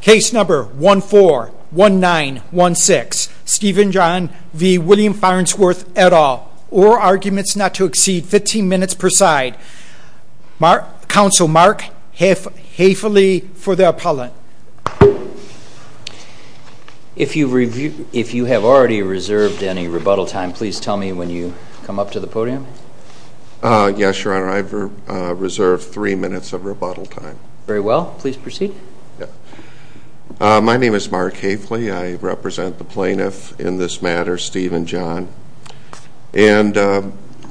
Case number 1 4 1 9 1 6 Stephen John v. William Farnsworth et al. Or arguments not to exceed 15 minutes per side. Council Mark, haifully for the appellant. If you have already reserved any rebuttal time please tell me when you come up to the podium. Yes your honor I've reserved three minutes of rebuttal time. Very well please proceed. My name is Mark Haifley I represent the plaintiff in this matter Stephen John and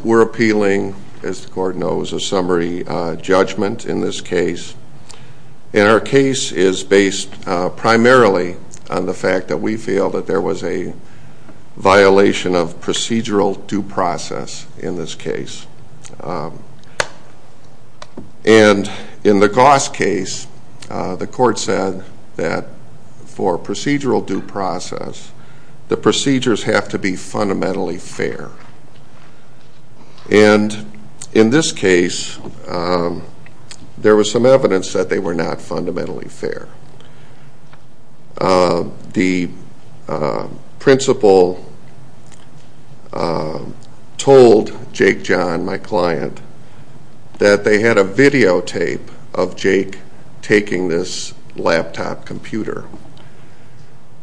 we're appealing as the court knows a summary judgment in this case and our case is based primarily on the fact that we feel that there was a violation of procedural due process in this case and in the Goss case the court said that for procedural due process the procedures have to be fundamentally fair and in this case there was some factual evidence from Jake John my client that they had a videotape of Jake taking this laptop computer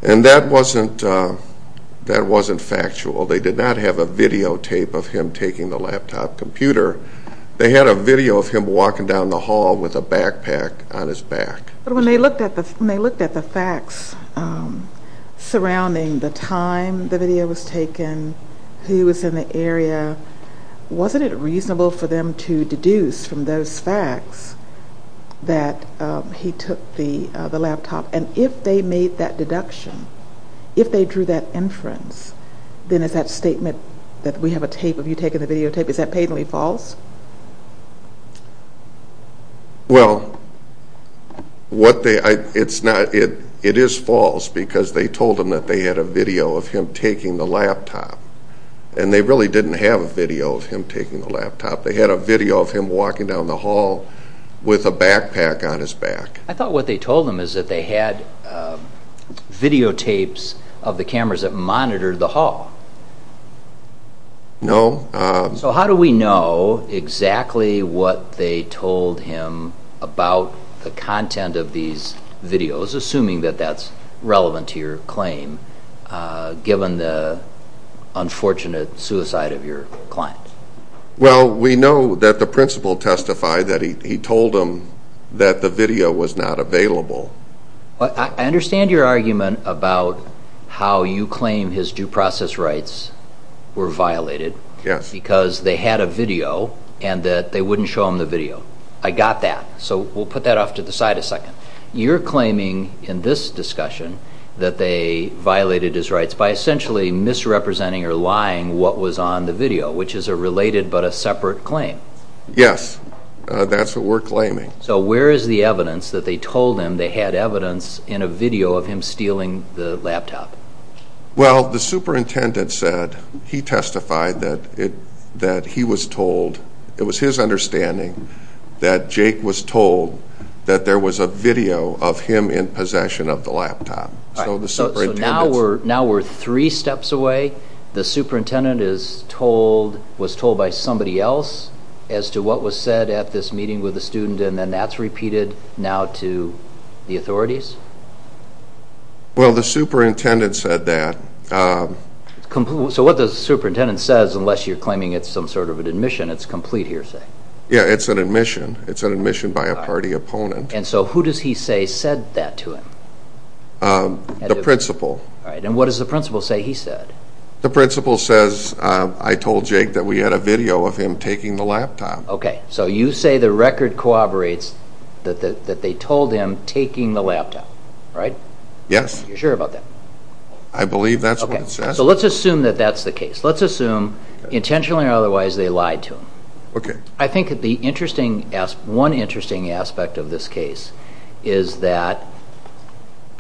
and that wasn't that wasn't factual they did not have a videotape of him taking the laptop computer they had a video of him walking down the hall with a backpack on his back but when they looked at the facts surrounding the time the video was taken he was in the area wasn't it reasonable for them to deduce from those facts that he took the the laptop and if they made that deduction if they drew that inference then is that statement that we have a tape of you taking the videotape is that patently false? Well what they it's not it it is false because they told him that they had a laptop and they really didn't have a video of him taking the laptop they had a video of him walking down the hall with a backpack on his back. I thought what they told them is that they had videotapes of the cameras that monitor the hall. No. So how do we know exactly what they told him about the content of these videos assuming that that's relevant to your claim given the unfortunate suicide of your client? Well we know that the principal testified that he told them that the video was not available. I understand your argument about how you claim his due process rights were violated. Yes. Because they had a video and that they wouldn't show him the video I got that so we'll put that off to the side a second. You're claiming in this discussion that they violated his rights by essentially misrepresenting or lying what was on the video which is a related but a separate claim. Yes that's what we're claiming. So where is the evidence that they told him they had evidence in a video of him stealing the laptop? Well the superintendent said he testified that it he was told it was his understanding that Jake was told that there was a video of him in possession of the laptop. So now we're now we're three steps away the superintendent is told was told by somebody else as to what was said at this meeting with the student and then that's repeated now to the authorities? Well the superintendent said that. So what the superintendent says unless you're claiming it's some sort of an admission it's complete hearsay. Yeah it's an admission it's an admission by a party opponent. And so who does he say said that to him? The principal. All right and what does the principal say he said? The principal says I told Jake that we had a video of him taking the laptop. Okay so you say the record corroborates that that they told him taking the laptop right? Yes. You're sure about that? I believe that's what it says. So let's assume that that's the case. Let's assume intentionally or otherwise they lied to him. Okay. I think that the interesting one interesting aspect of this case is that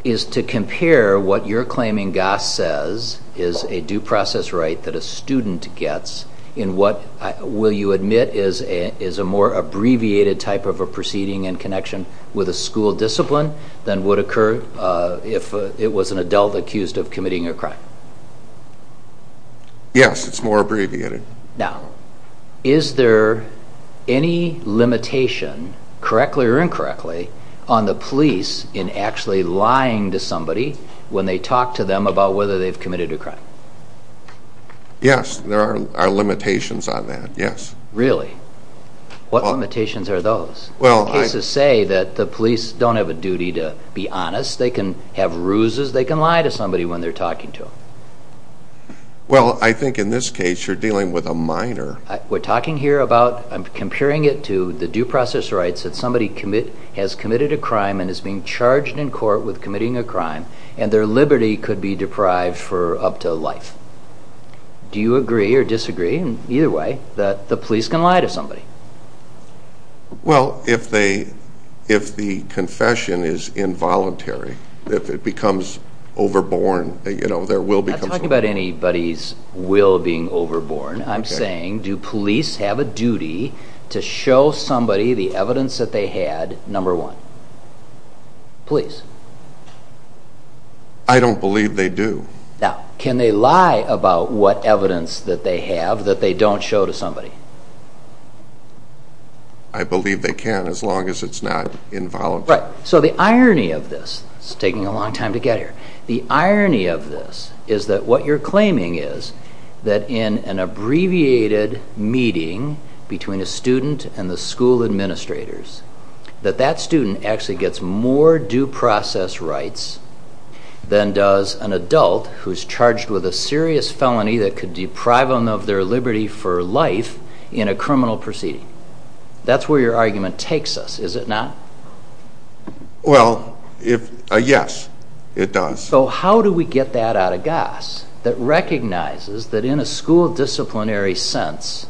is to compare what you're claiming Goss says is a due process right that a student gets in what will you admit is a is a more abbreviated type of a proceeding and connection with a school discipline than would occur if it was an Yes it's more abbreviated. Now is there any limitation correctly or incorrectly on the police in actually lying to somebody when they talk to them about whether they've committed a crime? Yes there are limitations on that yes. Really what limitations are those? Well I say that the police don't have a duty to be Well I think in this case you're dealing with a minor. We're talking here about comparing it to the due process rights that somebody commit has committed a crime and is being charged in court with committing a crime and their liberty could be deprived for up to life. Do you agree or disagree in either way that the police can lie to somebody? Well if they if the confession is involuntary if it I'm not talking about anybody's will being overborn I'm saying do police have a duty to show somebody the evidence that they had number one. Police. I don't believe they do. Now can they lie about what evidence that they have that they don't show to somebody? I believe they can as long as it's not involuntary. Right so the irony of this, it's taking a long time to get here, the irony of this is that what you're claiming is that in an abbreviated meeting between a student and the school administrators that that student actually gets more due process rights than does an adult who's charged with a serious felony that could deprive them of their liberty for life in a criminal proceeding. That's where your yes it does. So how do we get that out of gas that recognizes that in a school disciplinary sense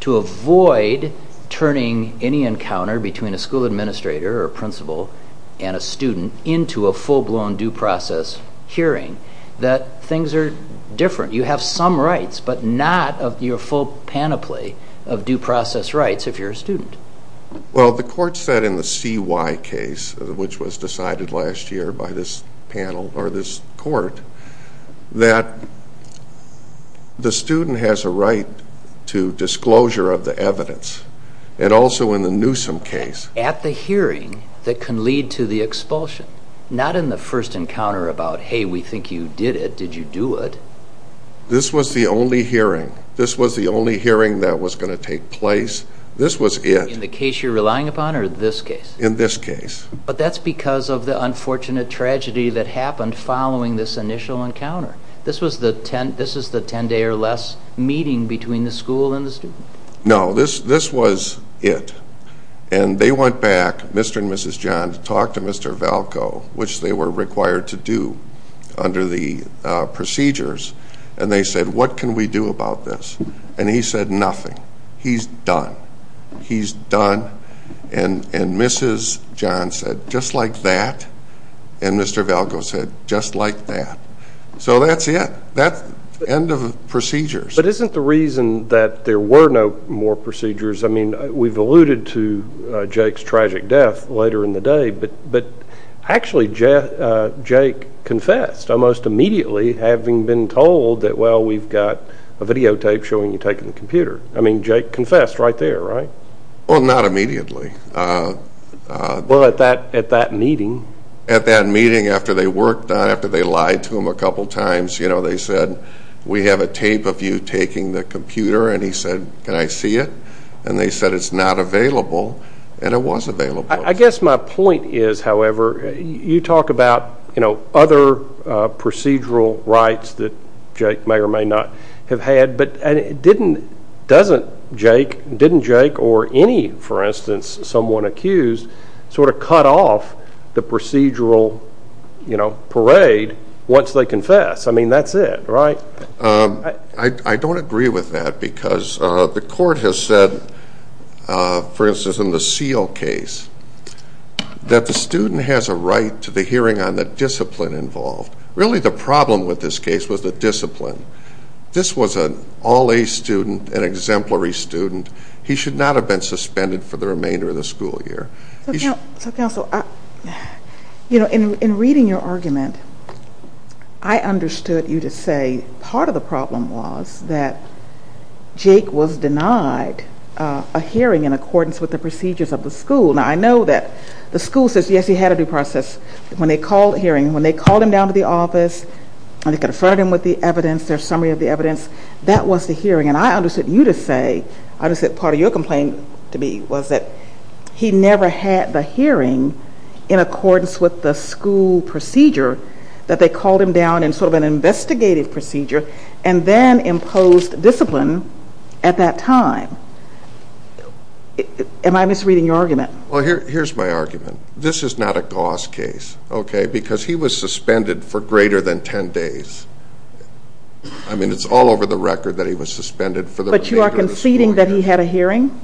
to avoid turning any encounter between a school administrator or principal and a student into a full-blown due process hearing that things are different. You have some rights but not of your full panoply of due process rights if you're a student. Well the court said in the CY case which was decided last year by this panel or this court that the student has a right to disclosure of the evidence and also in the Newsom case. At the hearing that can lead to the expulsion, not in the first encounter about hey we think you did it, did you do it. This was the only hearing, this was the only hearing that was going to take place, this was it. In the case you're relying upon or this case. But that's because of the unfortunate tragedy that happened following this initial encounter. This was the ten this is the ten day or less meeting between the school and the student. No this this was it and they went back Mr. and Mrs. John to talk to Mr. Valco which they were required to do under the procedures and they said what can we do about this and he said nothing. He's done. He's done and and Mrs. John said just like that and Mr. Valco said just like that. So that's it. That's the end of the procedures. But isn't the reason that there were no more procedures I mean we've alluded to Jake's tragic death later in the day but but actually Jeff Jake confessed almost immediately having been told that well we've got a videotape showing you taking the computer and he said can I see it and they said it's not available and it was available. I guess my point is however you talk about you know other procedural rights that Jake may or may not have had but and it didn't doesn't Jake didn't Jake or any for instance someone accused sort of cut off the procedural you know parade once they confess. I mean that's it right. I don't agree with that because the court has said for instance in the seal case that the student has a right to the hearing on the discipline involved. Really the problem with this case was the discipline. This was an all-a student an exemplary student. He should not have been suspended for the remainder of the school year. You know in reading your argument I understood you to say part of the problem was that Jake was denied a hearing in accordance with the procedures of the school. Now I know that the school says yes he had a due process when they called hearing when they called him down to the office and they conferred him with the evidence their summary of the evidence that was the say I just said part of your complaint to me was that he never had the hearing in accordance with the school procedure that they called him down and sort of an investigative procedure and then imposed discipline at that time. Am I misreading your argument? Well here's my argument this is not a Gauss case okay because he was suspended for greater than 10 days. I mean it's all over the record that he was suspended for the remainder of the school year. But you are conceding that he had a hearing?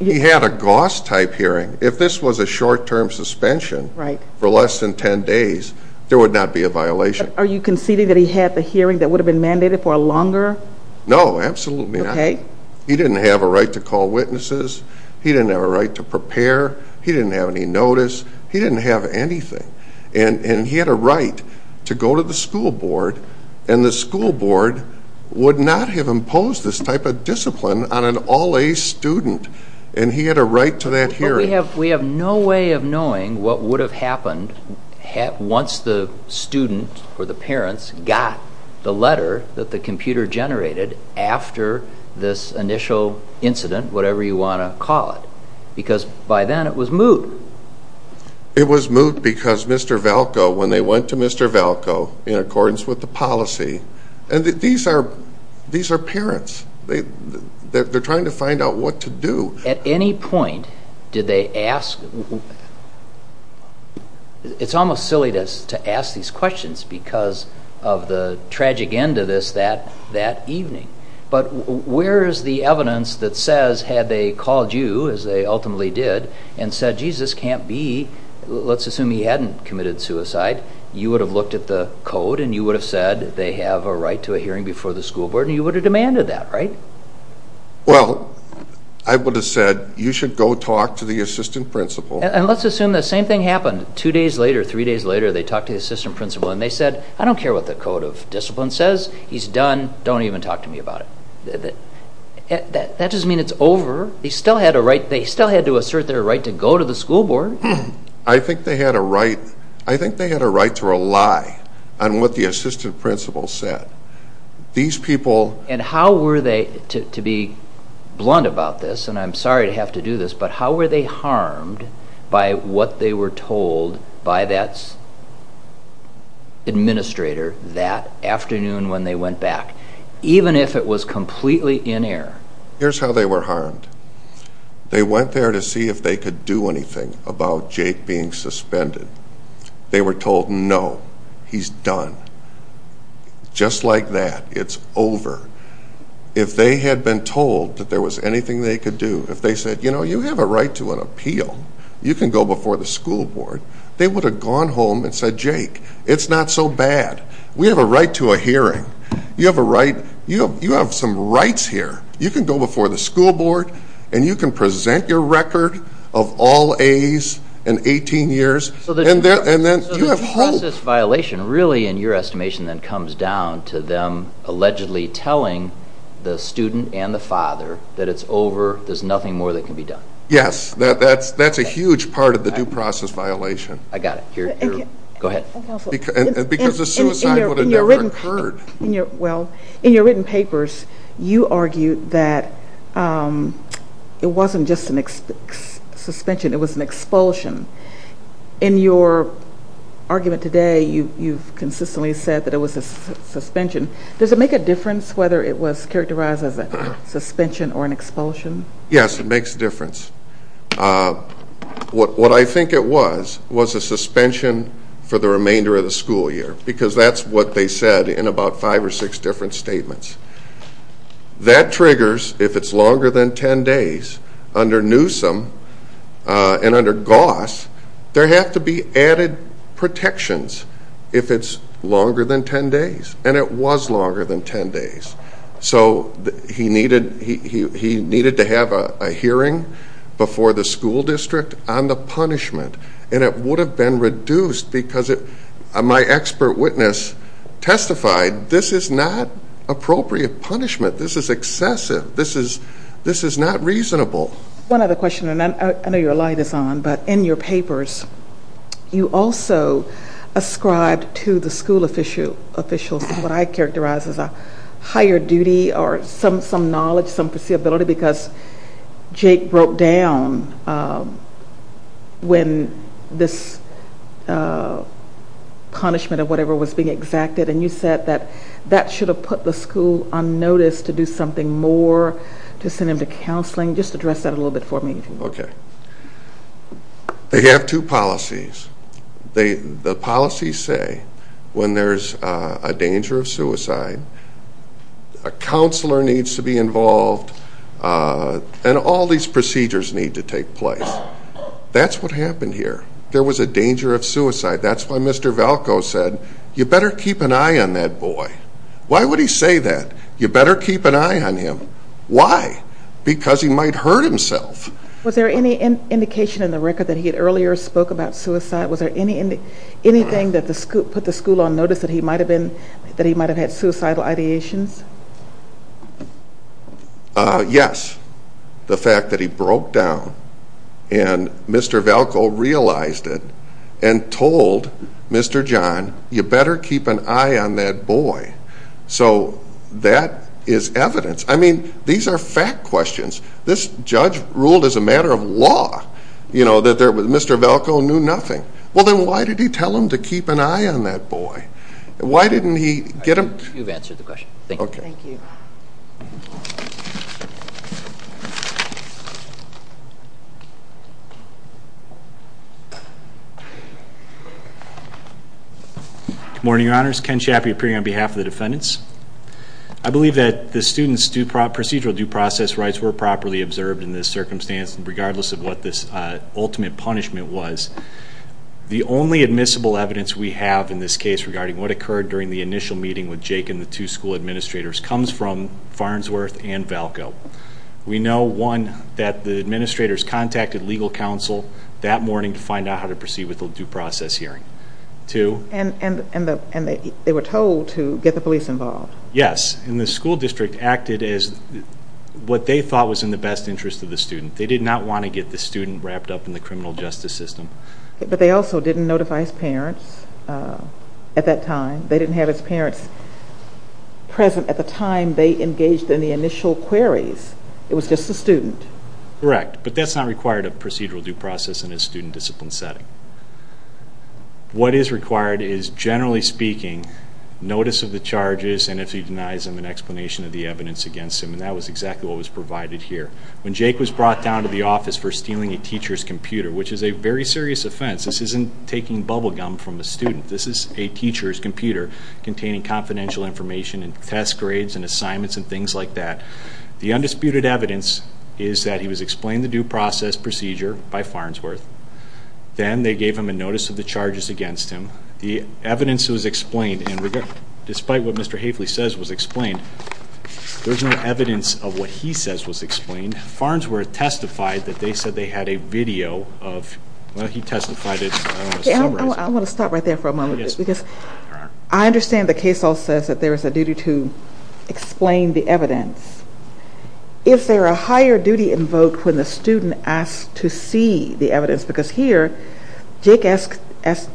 He had a Gauss type hearing if this was a short-term suspension right for less than 10 days there would not be a violation. Are you conceding that he had the hearing that would have been mandated for a longer? No absolutely not. Okay. He didn't have a right to call witnesses. He didn't have a right to prepare. He didn't have any notice. He didn't have anything and and he had a right to go to the school board and the impose this type of discipline on an all-a student and he had a right to that hearing. We have we have no way of knowing what would have happened once the student or the parents got the letter that the computer generated after this initial incident whatever you want to call it because by then it was moot. It was moot because Mr. Valco when they went to Mr. Valco in accordance with the parents they that they're trying to find out what to do. At any point did they ask it's almost silly to ask these questions because of the tragic end of this that that evening but where is the evidence that says had they called you as they ultimately did and said Jesus can't be let's assume he hadn't committed suicide you would have looked at the code and you would have said they have a right to a hearing before the school board and you would have demanded that right? Well I would have said you should go talk to the assistant principal. And let's assume the same thing happened two days later three days later they talked to the assistant principal and they said I don't care what the code of discipline says he's done don't even talk to me about it. That doesn't mean it's over. He still had a right they still had to assert their right to go to the school board. I think they had a right I think they had a lie on what the assistant principal said. These people and how were they to be blunt about this and I'm sorry to have to do this but how were they harmed by what they were told by that's administrator that afternoon when they went back even if it was completely in error. Here's how they were harmed. They went there to see if they could do anything about Jake being suspended. They were told no he's done. Just like that it's over. If they had been told that there was anything they could do if they said you know you have a right to an appeal you can go before the school board they would have gone home and said Jake it's not so bad we have a right to a hearing you have a right you know you have some rights here you can go before the school board and you can present your record of all A's in 18 years. So the due process violation really in your estimation then comes down to them allegedly telling the student and the father that it's over there's nothing more that can be done. Yes that's a huge part of the due process violation. I got it. Go ahead. Because the suicide would have never occurred. Well in your written papers you argued that it wasn't just an suspension it was an expulsion. In your argument today you you've consistently said that it was a suspension. Does it make a difference whether it was characterized as a suspension or an expulsion? Yes it makes a difference. What I think it was was a suspension for the remainder of the school year because that's what they said in about five or six different statements. That triggers if it's longer than 10 days under Newsom and under Goss there have to be added protections if it's longer than 10 days and it was longer than 10 days. So he needed he needed to have a hearing before the school district on the punishment and it would have been reduced because it my expert witness testified this is not appropriate punishment this is excessive this is this is not reasonable. One other question and I know your light is on but in your papers you also ascribed to the school officials what I characterize as a higher duty or some some knowledge some foreseeability because Jake broke down when this punishment of whatever was being exacted and you said that that should have put the school on notice to do something more to send him to counseling just address that a little bit for me. Okay they have two policies they the policies say when there's a danger of suicide a and all these procedures need to take place. That's what happened here there was a danger of suicide that's why Mr. Valco said you better keep an eye on that boy. Why would he say that you better keep an eye on him. Why? Because he might hurt himself. Was there any indication in the record that he had earlier spoke about suicide was there any anything that the school put the school on notice that he might have been that he might have had suicidal ideations? Yes the fact that he broke down and Mr. Valco realized it and told Mr. John you better keep an eye on that boy so that is evidence I mean these are fact questions this judge ruled as a matter of law you know that there was Mr. Valco knew nothing well then why did he tell him to keep an eye on that boy why didn't he get him? You've answered the question. Okay. Thank you. Morning your honors Ken Chaffee appearing on behalf of the defendants. I believe that the students procedural due process rights were properly observed in this circumstance and regardless of what this ultimate punishment was the only admissible evidence we have in this case regarding what occurred during the initial meeting with Jake and the two school administrators comes from Farnsworth and Valco. We know one that the administrators contacted legal counsel that morning to find out how to proceed with the due process hearing. Two and they were told to get the police involved. Yes and the school district acted as what they thought was in the best interest of the student they did not want to get the student wrapped up in the criminal justice system. But they also didn't notify his parents at that time they didn't have his parents present at the time they engaged in the initial queries it was just a student. Correct but that's not required a procedural due process in a student discipline setting. What is required is generally speaking notice of the charges and if he denies them an explanation of the evidence against him and that was exactly what was provided here. When Jake was brought down to the very serious offense this isn't taking bubblegum from a student this is a teacher's computer containing confidential information and test grades and assignments and things like that. The undisputed evidence is that he was explained the due process procedure by Farnsworth then they gave him a notice of the charges against him. The evidence was explained and despite what Mr. Haefeli says was explained there's no evidence of what he says was explained. Farnsworth testified that they said they had a video of well he testified I want to stop right there for a moment because I understand the case all says that there is a duty to explain the evidence. Is there a higher duty invoked when the student asked to see the evidence because here Jake asked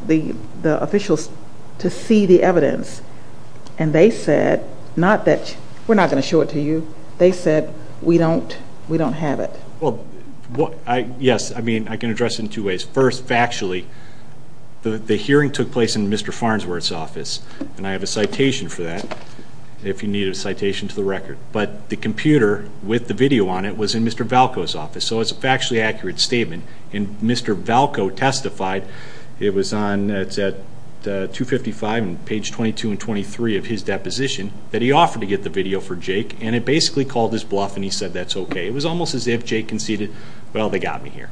the the officials to see the evidence and they said not that we're not going to it to you they said we don't we don't have it. Well what I yes I mean I can address in two ways first factually the hearing took place in Mr. Farnsworth's office and I have a citation for that if you need a citation to the record but the computer with the video on it was in Mr. Valcoe's office so it's a factually accurate statement and Mr. Valcoe testified it was on it's at 255 and page 22 and 23 of his deposition that he offered to get the video for Jake and it basically called his bluff and he said that's okay it was almost as if Jake conceded well they got me here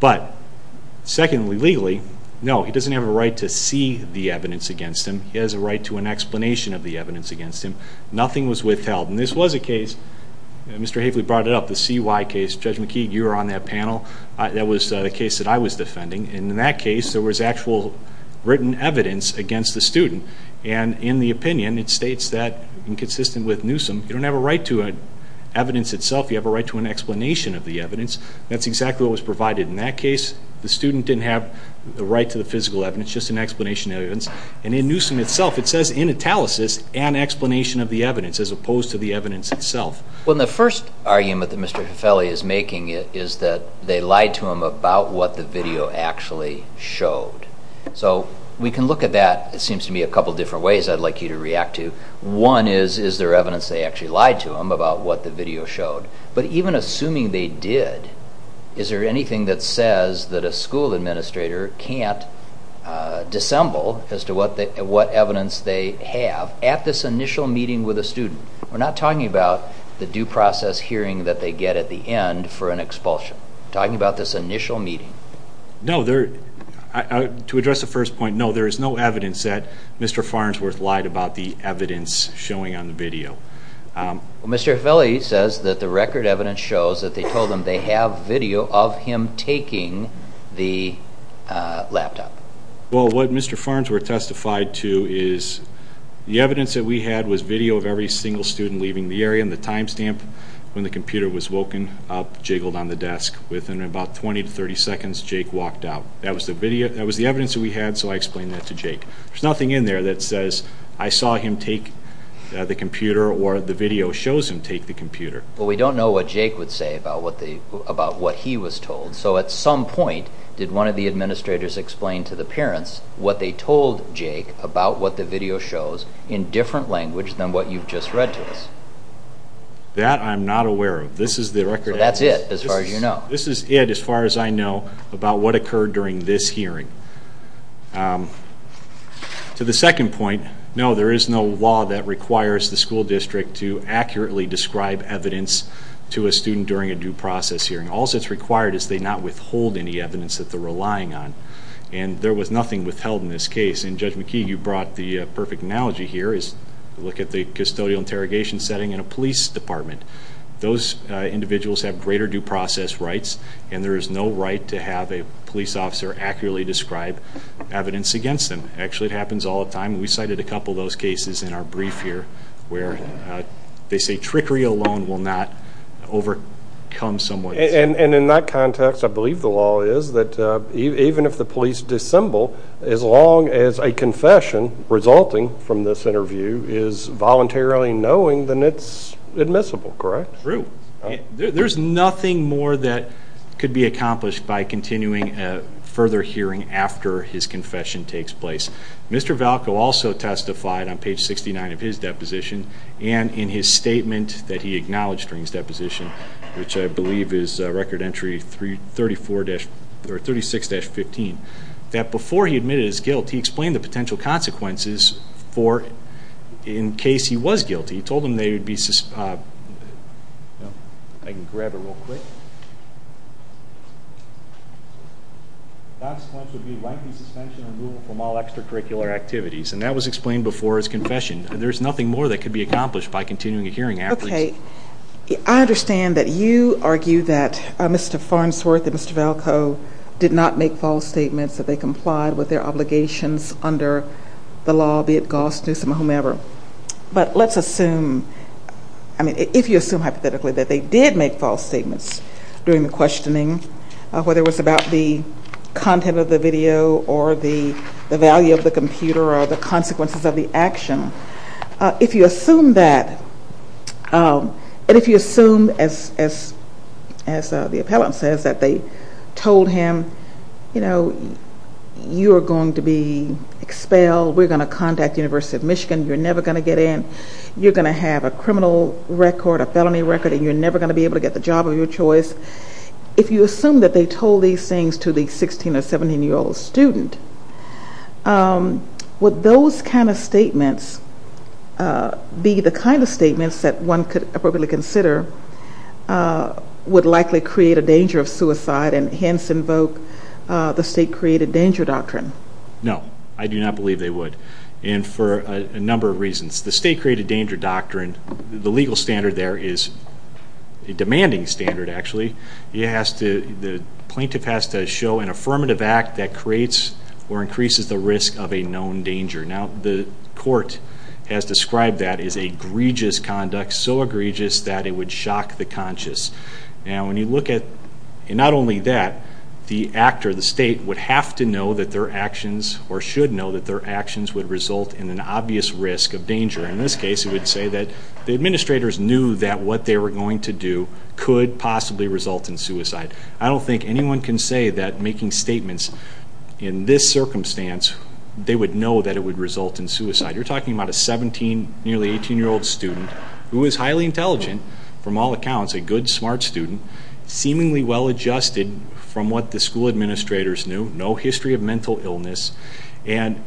but secondly legally no he doesn't have a right to see the evidence against him he has a right to an explanation of the evidence against him nothing was withheld and this was a case Mr. Haefeli brought it up the CY case Judge McKeague you were on that panel that was the case that I was defending in that case there was actual written evidence against the student and in the opinion it states that inconsistent with Newsome you don't have a right to it evidence itself you have a right to an explanation of the evidence that's exactly what was provided in that case the student didn't have the right to the physical evidence just an explanation evidence and in Newsome itself it says in italicis an explanation of the evidence as opposed to the evidence itself when the first argument that Mr. Haefeli is making it is that they lied to him about what the video actually showed so we can look at that it seems to me a couple different ways I'd like you to react to one is is there evidence they actually lied to him about what the video showed but even assuming they did is there anything that says that a school administrator can't dissemble as to what they what evidence they have at this initial meeting with a student we're not talking about the due process hearing that they get at the end for an expulsion talking about this initial meeting no there to address the evidence that Mr. Farnsworth lied about the evidence showing on the video Mr. Haefeli says that the record evidence shows that they told them they have video of him taking the laptop well what Mr. Farnsworth testified to is the evidence that we had was video of every single student leaving the area in the time stamp when the computer was woken up jiggled on the desk within about 20 to 30 seconds Jake walked out that was the video that was the evidence that we had so I explained that to Jake there's nothing in there that says I saw him take the computer or the video shows him take the computer but we don't know what Jake would say about what they about what he was told so at some point did one of the administrators explain to the parents what they told Jake about what the video shows in different language than what you just read to us that I'm not aware of this is the record that's it as far as you know this is it as far as I know about what occurred during this hearing to the second point no there is no law that requires the school district to accurately describe evidence to a student during a due process hearing all that's required is they not withhold any evidence that they're relying on and there was nothing withheld in this case and judge McKee you brought the perfect analogy here is look at the custodial interrogation setting in a police department those individuals have greater due process rights and there is no right to have a police officer accurately describe evidence against them actually it happens all the time we cited a couple of those cases in our brief here where they say trickery alone will not overcome someone and in that context I believe the law is that even if the police dissemble as long as a confession resulting from this interview is voluntarily knowing then it's admissible correct true there's nothing more that could be accomplished by continuing a further hearing after his confession takes place Mr. Valco also testified on page 69 of his deposition and in his statement that he acknowledged during his deposition which I believe is record entry 334-36-15 that before he admitted his guilt he explained the potential consequences for it in case he was guilty told him they would be I can grab it real quick consequences would be lengthy suspension and removal from all extracurricular activities and that was explained before his confession there's nothing more that could be accomplished by continuing a hearing okay I understand that you argue that Mr. Farnsworth and Mr. Valco did not make false statements that they complied with their obligations under the law be it Gaust, Newsom or whomever but let's assume I mean if you assume hypothetically that they did make false statements during the questioning whether it was about the content of the video or the value of the computer or the consequences of the action if you assume that and if you assume as the told him you know you're going to be expelled we're going to contact University of Michigan you're never going to get in you're going to have a criminal record a felony record and you're never going to be able to get the job of your choice if you assume that they told these things to the 16 or 17 year old student would those kind of statements be the kind of statements that one could appropriately consider would likely create a danger of suicide and hence invoke the state created danger doctrine no I do not believe they would and for a number of reasons the state created danger doctrine the legal standard there is a demanding standard actually he has to the plaintiff has to show an affirmative act that creates or increases the risk of a known danger now the court has described that is a egregious conduct so egregious that it would shock the conscious now when you look at it not only that the actor the state would have to know that their actions or should know that their actions would result in an obvious risk of danger in this case it would say that the administrators knew that what they were going to do could possibly result in suicide I don't think anyone can say that making statements in this you're talking about a 17 nearly 18 year old student who is highly intelligent from all accounts a good smart student seemingly well-adjusted from what the school administrators knew no history of mental illness and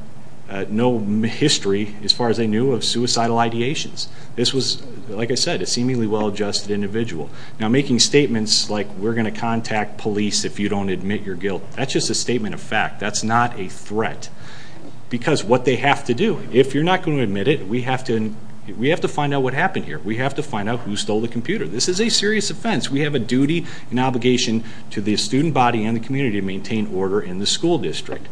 no history as far as they knew of suicidal ideations this was like I said a seemingly well-adjusted individual now making statements like we're gonna contact police if you don't admit your guilt that's just a statement of fact that's not a threat because what they have to do if you're not going to admit it we have to we have to find out what happened here we have to find out who stole the computer this is a serious offense we have a duty and obligation to the student body and the community to maintain order in the school district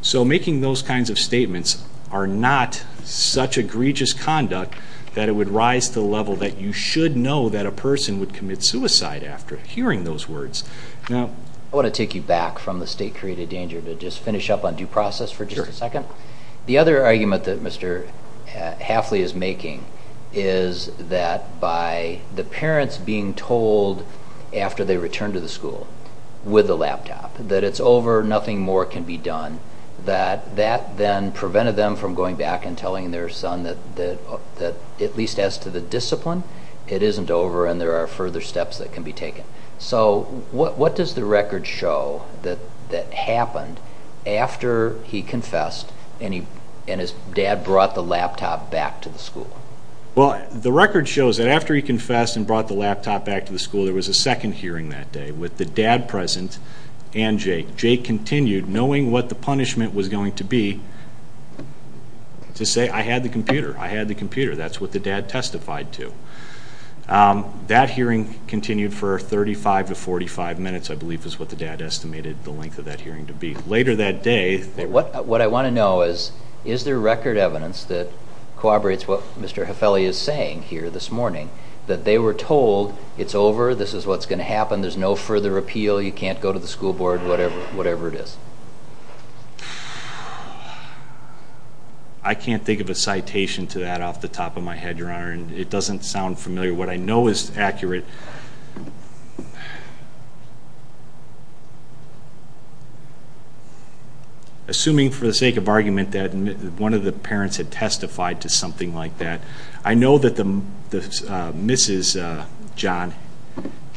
so making those kinds of statements are not such egregious conduct that it would rise to the level that you should know that a person would commit suicide after hearing those words now I want to take you back from the state created danger to just finish up on due process for a second the other argument that mr. Halfley is making is that by the parents being told after they return to the school with a laptop that it's over nothing more can be done that that then prevented them from going back and telling their son that that that at least as to the discipline it isn't over and there are further steps that can be taken so what what does the record show that that happened after he confessed and he and his dad brought the laptop back to the school well the record shows that after he confessed and brought the laptop back to the school there was a second hearing that day with the dad present and Jake Jake continued knowing what the punishment was going to be to say I had the computer I had the computer that's what the dad testified to that hearing continued for 35 to 45 minutes I believe is what the dad estimated the length of that hearing to be later that day what what I want to know is is there record evidence that corroborates what mr. Hafele is saying here this morning that they were told it's over this is what's going to happen there's no further appeal you can't go to the school board whatever whatever it is I can't think of a citation to that off the top of my head your honor and it assuming for the sake of argument that one of the parents had testified to something like that I know that the mrs. John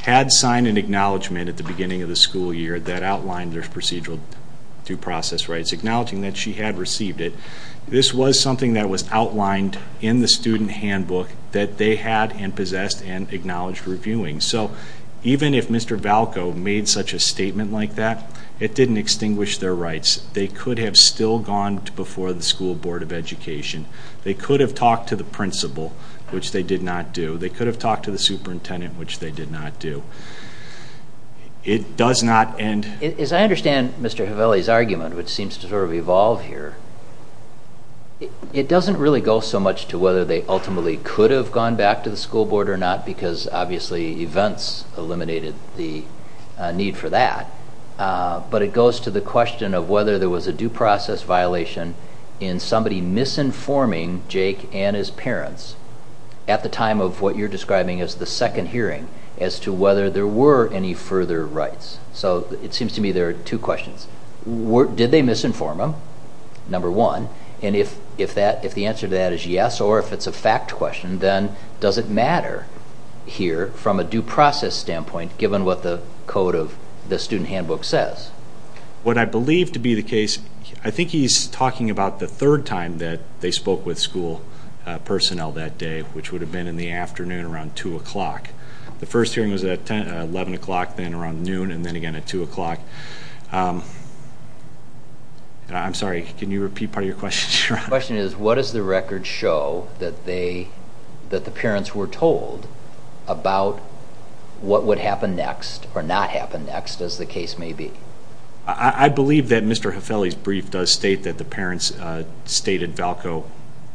had signed an acknowledgement at the beginning of the school year that outlined their procedural due process rights acknowledging that she had received it this was something that was outlined in the student handbook that they had and possessed and acknowledged reviewing so even if mr. Valco made such a statement like that it didn't extinguish their rights they could have still gone before the school board of education they could have talked to the principal which they did not do they could have talked to the superintendent which they did not do it does not end as I understand mr. Hafele's argument which seems to sort of evolve here it doesn't really go so much to whether they ultimately could have gone back to the school board which obviously events eliminated the need for that but it goes to the question of whether there was a due process violation in somebody misinforming Jake and his parents at the time of what you're describing as the second hearing as to whether there were any further rights so it seems to me there are two questions were did they misinform them number one and if if that if the answer to that is yes or if it's a fact question then does it matter here from a due process standpoint given what the code of the student handbook says what I believe to be the case I think he's talking about the third time that they spoke with school personnel that day which would have been in the afternoon around two o'clock the first hearing was at ten eleven o'clock then around noon and then again at two o'clock I'm sorry can you repeat part of your question sure question is what is the record show that they that the what would happen next or not happen next as the case may be I believe that mr. Hefeli's brief does state that the parents stated Valco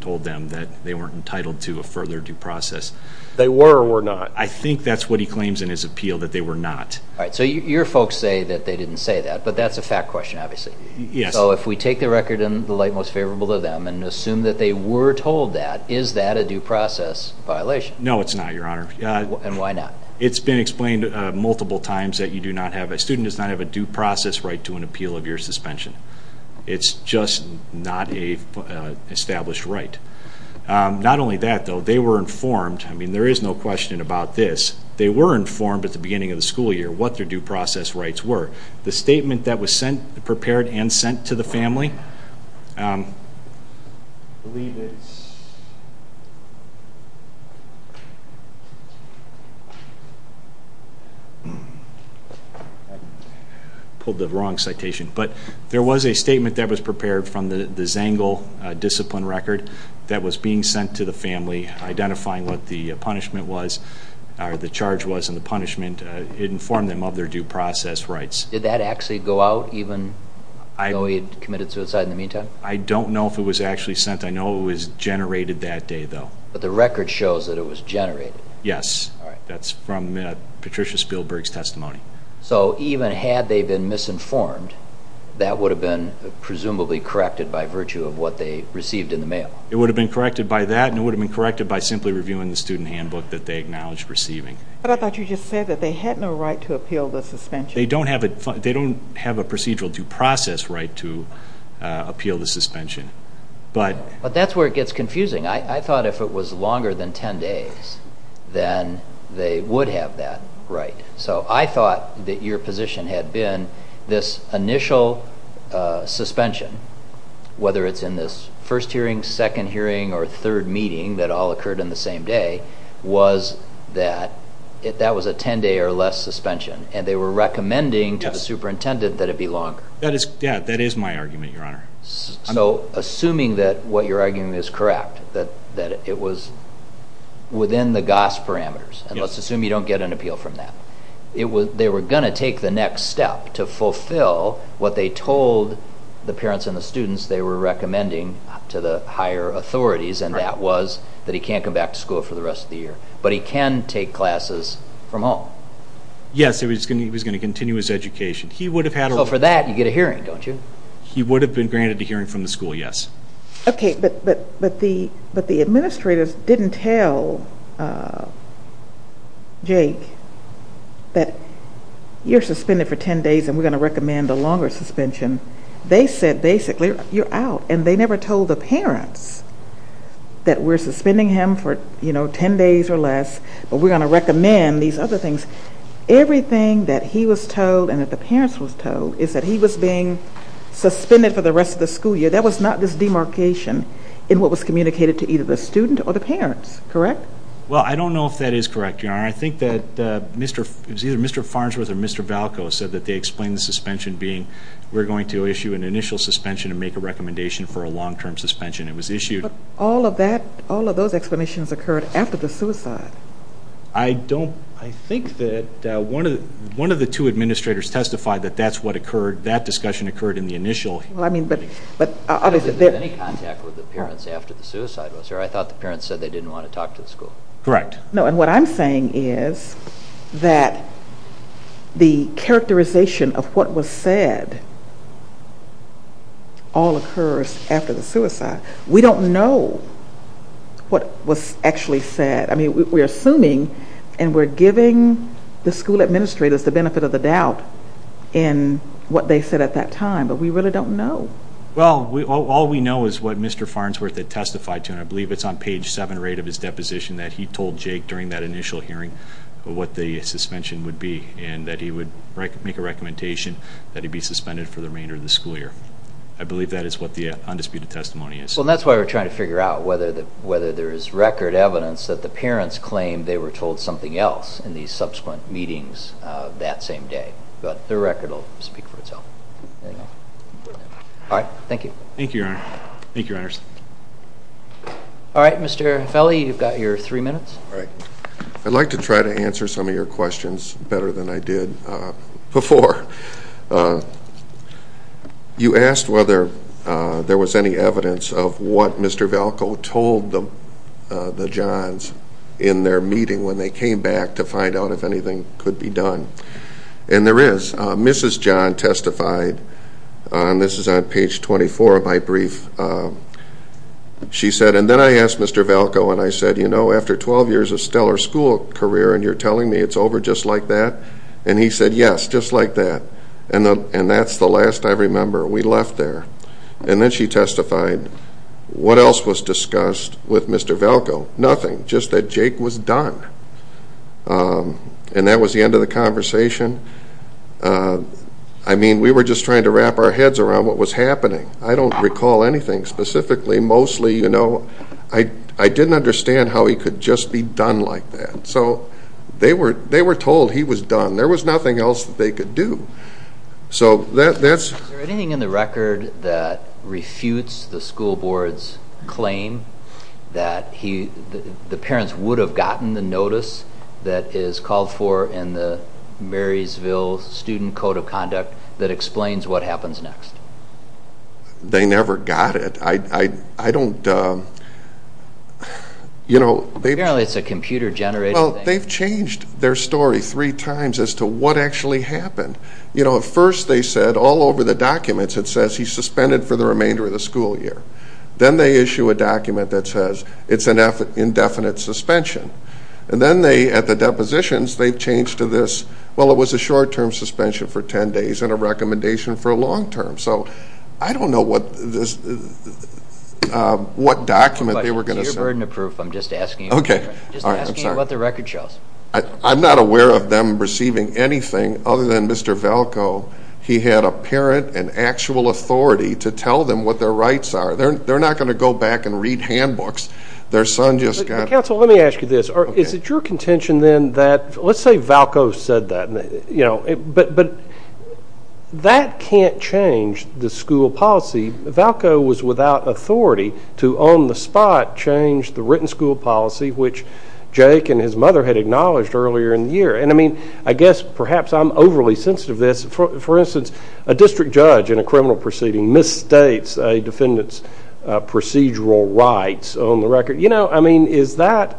told them that they weren't entitled to a further due process they were or were not I think that's what he claims in his appeal that they were not right so your folks say that they didn't say that but that's a fact question obviously yes so if we take the record in the light most favorable to them and assume that they were told that is that a due process violation no it's not your honor and why not it's been explained multiple times that you do not have a student does not have a due process right to an appeal of your suspension it's just not a established right not only that though they were informed I mean there is no question about this they were informed at the beginning of the school year what their due process rights were the statement that was sent prepared and to the family pulled the wrong citation but there was a statement that was prepared from the zangle discipline record that was being sent to the family identifying what the punishment was or the charge was in the punishment it informed them of their due process rights did that actually go out even I know he'd committed suicide in the meantime I don't know if it was actually sent I know it was generated that day though but the record shows that it was generated yes that's from Patricia Spielberg's testimony so even had they been misinformed that would have been presumably corrected by virtue of what they received in the mail it would have been corrected by that and it would have been corrected by simply reviewing the student handbook that they acknowledged receiving but I thought you said that they had no right to appeal the suspension they don't have it they don't have a procedural due process right to appeal the suspension but but that's where it gets confusing I thought if it was longer than 10 days then they would have that right so I thought that your position had been this initial suspension whether it's in this first hearing second hearing or third meeting that all occurred in the same day was that it that was a 10-day or less suspension and they were recommending to the superintendent that it be longer that is yeah that is my argument your honor so assuming that what you're arguing is correct that that it was within the goss parameters and let's assume you don't get an appeal from that it was they were gonna take the next step to fulfill what they told the parents and the students they were that he can't come back to school for the rest of the year but he can take classes from home yes it was gonna he was gonna continue his education he would have had over that you get a hearing don't you he would have been granted to hearing from the school yes okay but but but the but the administrators didn't tell Jake that you're suspended for 10 days and we're going to recommend a longer suspension they said basically you're out and they were suspending him for you know 10 days or less but we're going to recommend these other things everything that he was told and that the parents was told is that he was being suspended for the rest of the school year that was not this demarcation in what was communicated to either the student or the parents correct well I don't know if that is correct your honor I think that mr. it was either mr. Farnsworth or mr. Valco said that they explained the suspension being we're going to issue an initial suspension and make a it was issued all of that all of those explanations occurred after the suicide I don't I think that one of the one of the two administrators testified that that's what occurred that discussion occurred in the initial well I mean but but obviously any contact with the parents after the suicide was there I thought the parents said they didn't want to talk to the school correct no and what I'm saying is that the characterization of what was said all after the suicide we don't know what was actually said I mean we're assuming and we're giving the school administrators the benefit of the doubt in what they said at that time but we really don't know well we all we know is what mr. Farnsworth had testified to and I believe it's on page 7 or 8 of his deposition that he told Jake during that initial hearing what the suspension would be and that he would make a recommendation that he be suspended for remainder of the school year I believe that is what the undisputed testimony is well that's why we're trying to figure out whether that whether there is record evidence that the parents claimed they were told something else in these subsequent meetings that same day but the record will speak for itself all right thank you thank you thank you honors all right mr. Feli you've got your three minutes all right I'd like to try to answer some of your questions better than I did before you asked whether there was any evidence of what mr. Velko told them the Johns in their meeting when they came back to find out if anything could be done and there is mrs. John testified and this is on page 24 of my brief she said and then I asked mr. Velko and I said you know after 12 years of stellar school career and you're telling me it's over just like that and he said yes just like that and then and that's the last I remember we left there and then she testified what else was discussed with mr. Velko nothing just that Jake was done and that was the end of the conversation I mean we were just trying to wrap our heads around what was happening I don't recall anything specifically mostly you know I I didn't understand how he could just be done like that so they were they were told he was done there was nothing else that they could do so that's anything in the record that refutes the school board's claim that he the parents would have gotten the notice that is called for in the Marysville student code of conduct that explains what happens next they never got it I I I don't you know they barely it's a computer generate well they've changed their story three times as to what actually happened you know at first they said all over the documents it says he's suspended for the remainder of the school year then they issue a document that says it's an effort indefinite suspension and then they at the depositions they've changed to this well it was a short-term suspension for ten days and a I don't know what this what document they were gonna burden of proof I'm just asking okay what the record shows I'm not aware of them receiving anything other than mr. Valco he had a parent and actual authority to tell them what their rights are they're not going to go back and read handbooks their son just got counsel let me ask you this or is it your contention then that let's say Valco said that you know but but that can't change the school policy Valco was without authority to on the spot change the written school policy which Jake and his mother had acknowledged earlier in the year and I mean I guess perhaps I'm overly sensitive this for instance a district judge in a criminal proceeding misstates a defendant's procedural rights on the record you know I mean is that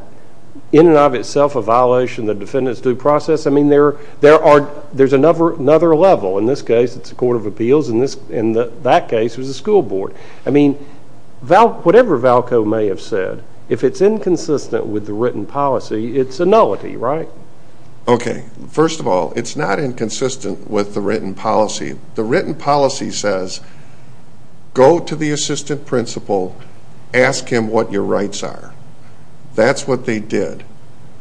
in and of itself a violation the defendant's due process I mean there there are there's another another level in this case it's a court of appeals in this in that case was a school board I mean Val whatever Valco may have said if it's inconsistent with the written policy it's a nullity right ok first of all it's not inconsistent with the written policy the written policy says go to the assistant principal ask him what your rights are that's what they did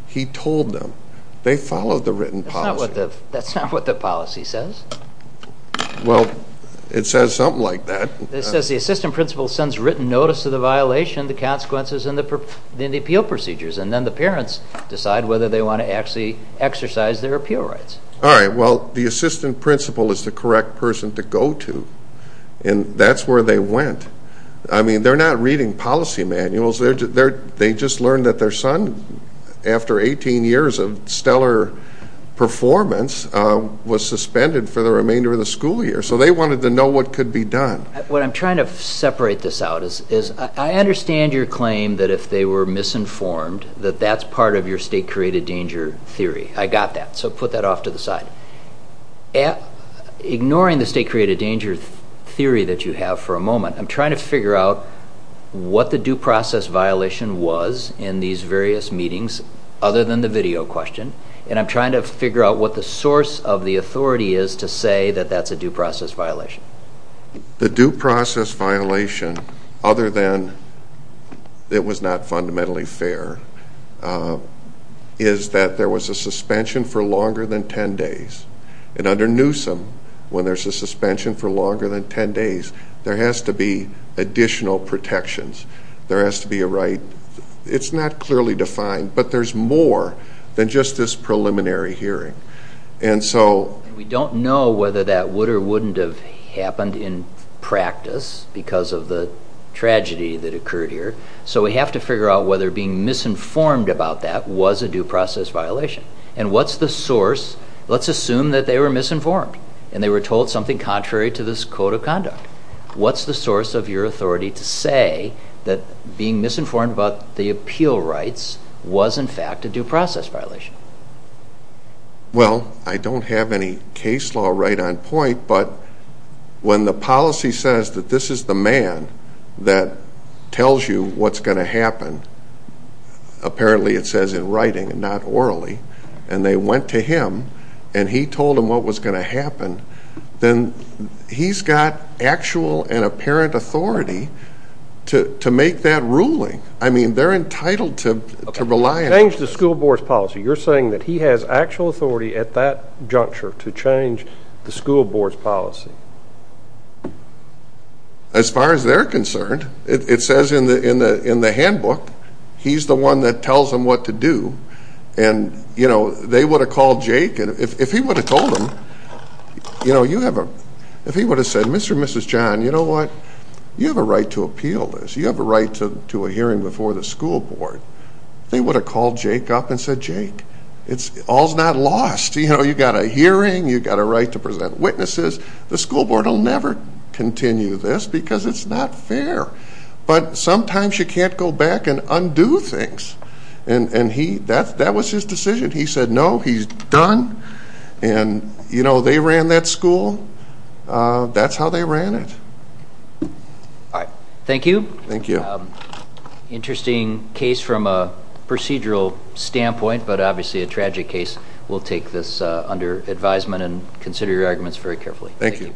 he told them they followed the written policy what the that's not what the policy says well it says something like that it says the assistant principal sends written notice to the violation the consequences and the perp then the appeal procedures and then the parents decide whether they want to actually exercise their appeal rights all right well the assistant principal is the correct person to go to and that's where they went I mean they're not reading policy manuals they're they just learned that their son after 18 years of stellar performance was suspended for the remainder of the school year so they wanted to know what could be done what I'm trying to separate this out is is I understand your claim that if they were misinformed that that's part of your created danger theory I got that so put that off to the side yeah ignoring the state created danger theory that you have for a moment I'm trying to figure out what the due process violation was in these various meetings other than the video question and I'm trying to figure out what the source of the authority is to say that that's a due process violation the due process violation other than it was not fundamentally fair is that there was a suspension for longer than 10 days and under Newsom when there's a suspension for longer than 10 days there has to be additional protections there has to be a right it's not clearly defined but there's more than just this preliminary hearing and so we don't know whether that would or wouldn't have happened in practice because of the tragedy that occurred here so we have to figure out whether being misinformed about that was a due process violation and what's the source let's assume that they were misinformed and they were told something contrary to this code of conduct what's the source of your authority to say that being misinformed about the appeal rights was in fact a due process violation well I the man that tells you what's going to happen apparently it says in writing and not orally and they went to him and he told him what was going to happen then he's got actual and apparent authority to make that ruling I mean they're entitled to rely on the school board's policy you're saying that he has actual authority at that juncture to change the school board's policy as far as they're concerned it says in the in the in the handbook he's the one that tells them what to do and you know they would have called Jake and if he would have told him you know you have a if he would have said mr. mrs. John you know what you have a right to appeal this you have a right to a hearing before the school board they would have called Jake up and said Jake it's all's not lost you know you got a hearing you got a right to present witnesses the school board will never continue this because it's not fair but sometimes you can't go back and undo things and and he that's that was his decision he said no he's done and you know they ran that school that's how they ran it all right thank you interesting case from a procedural standpoint but obviously a tragic case we'll take this under advisement and consider your arguments very carefully thank you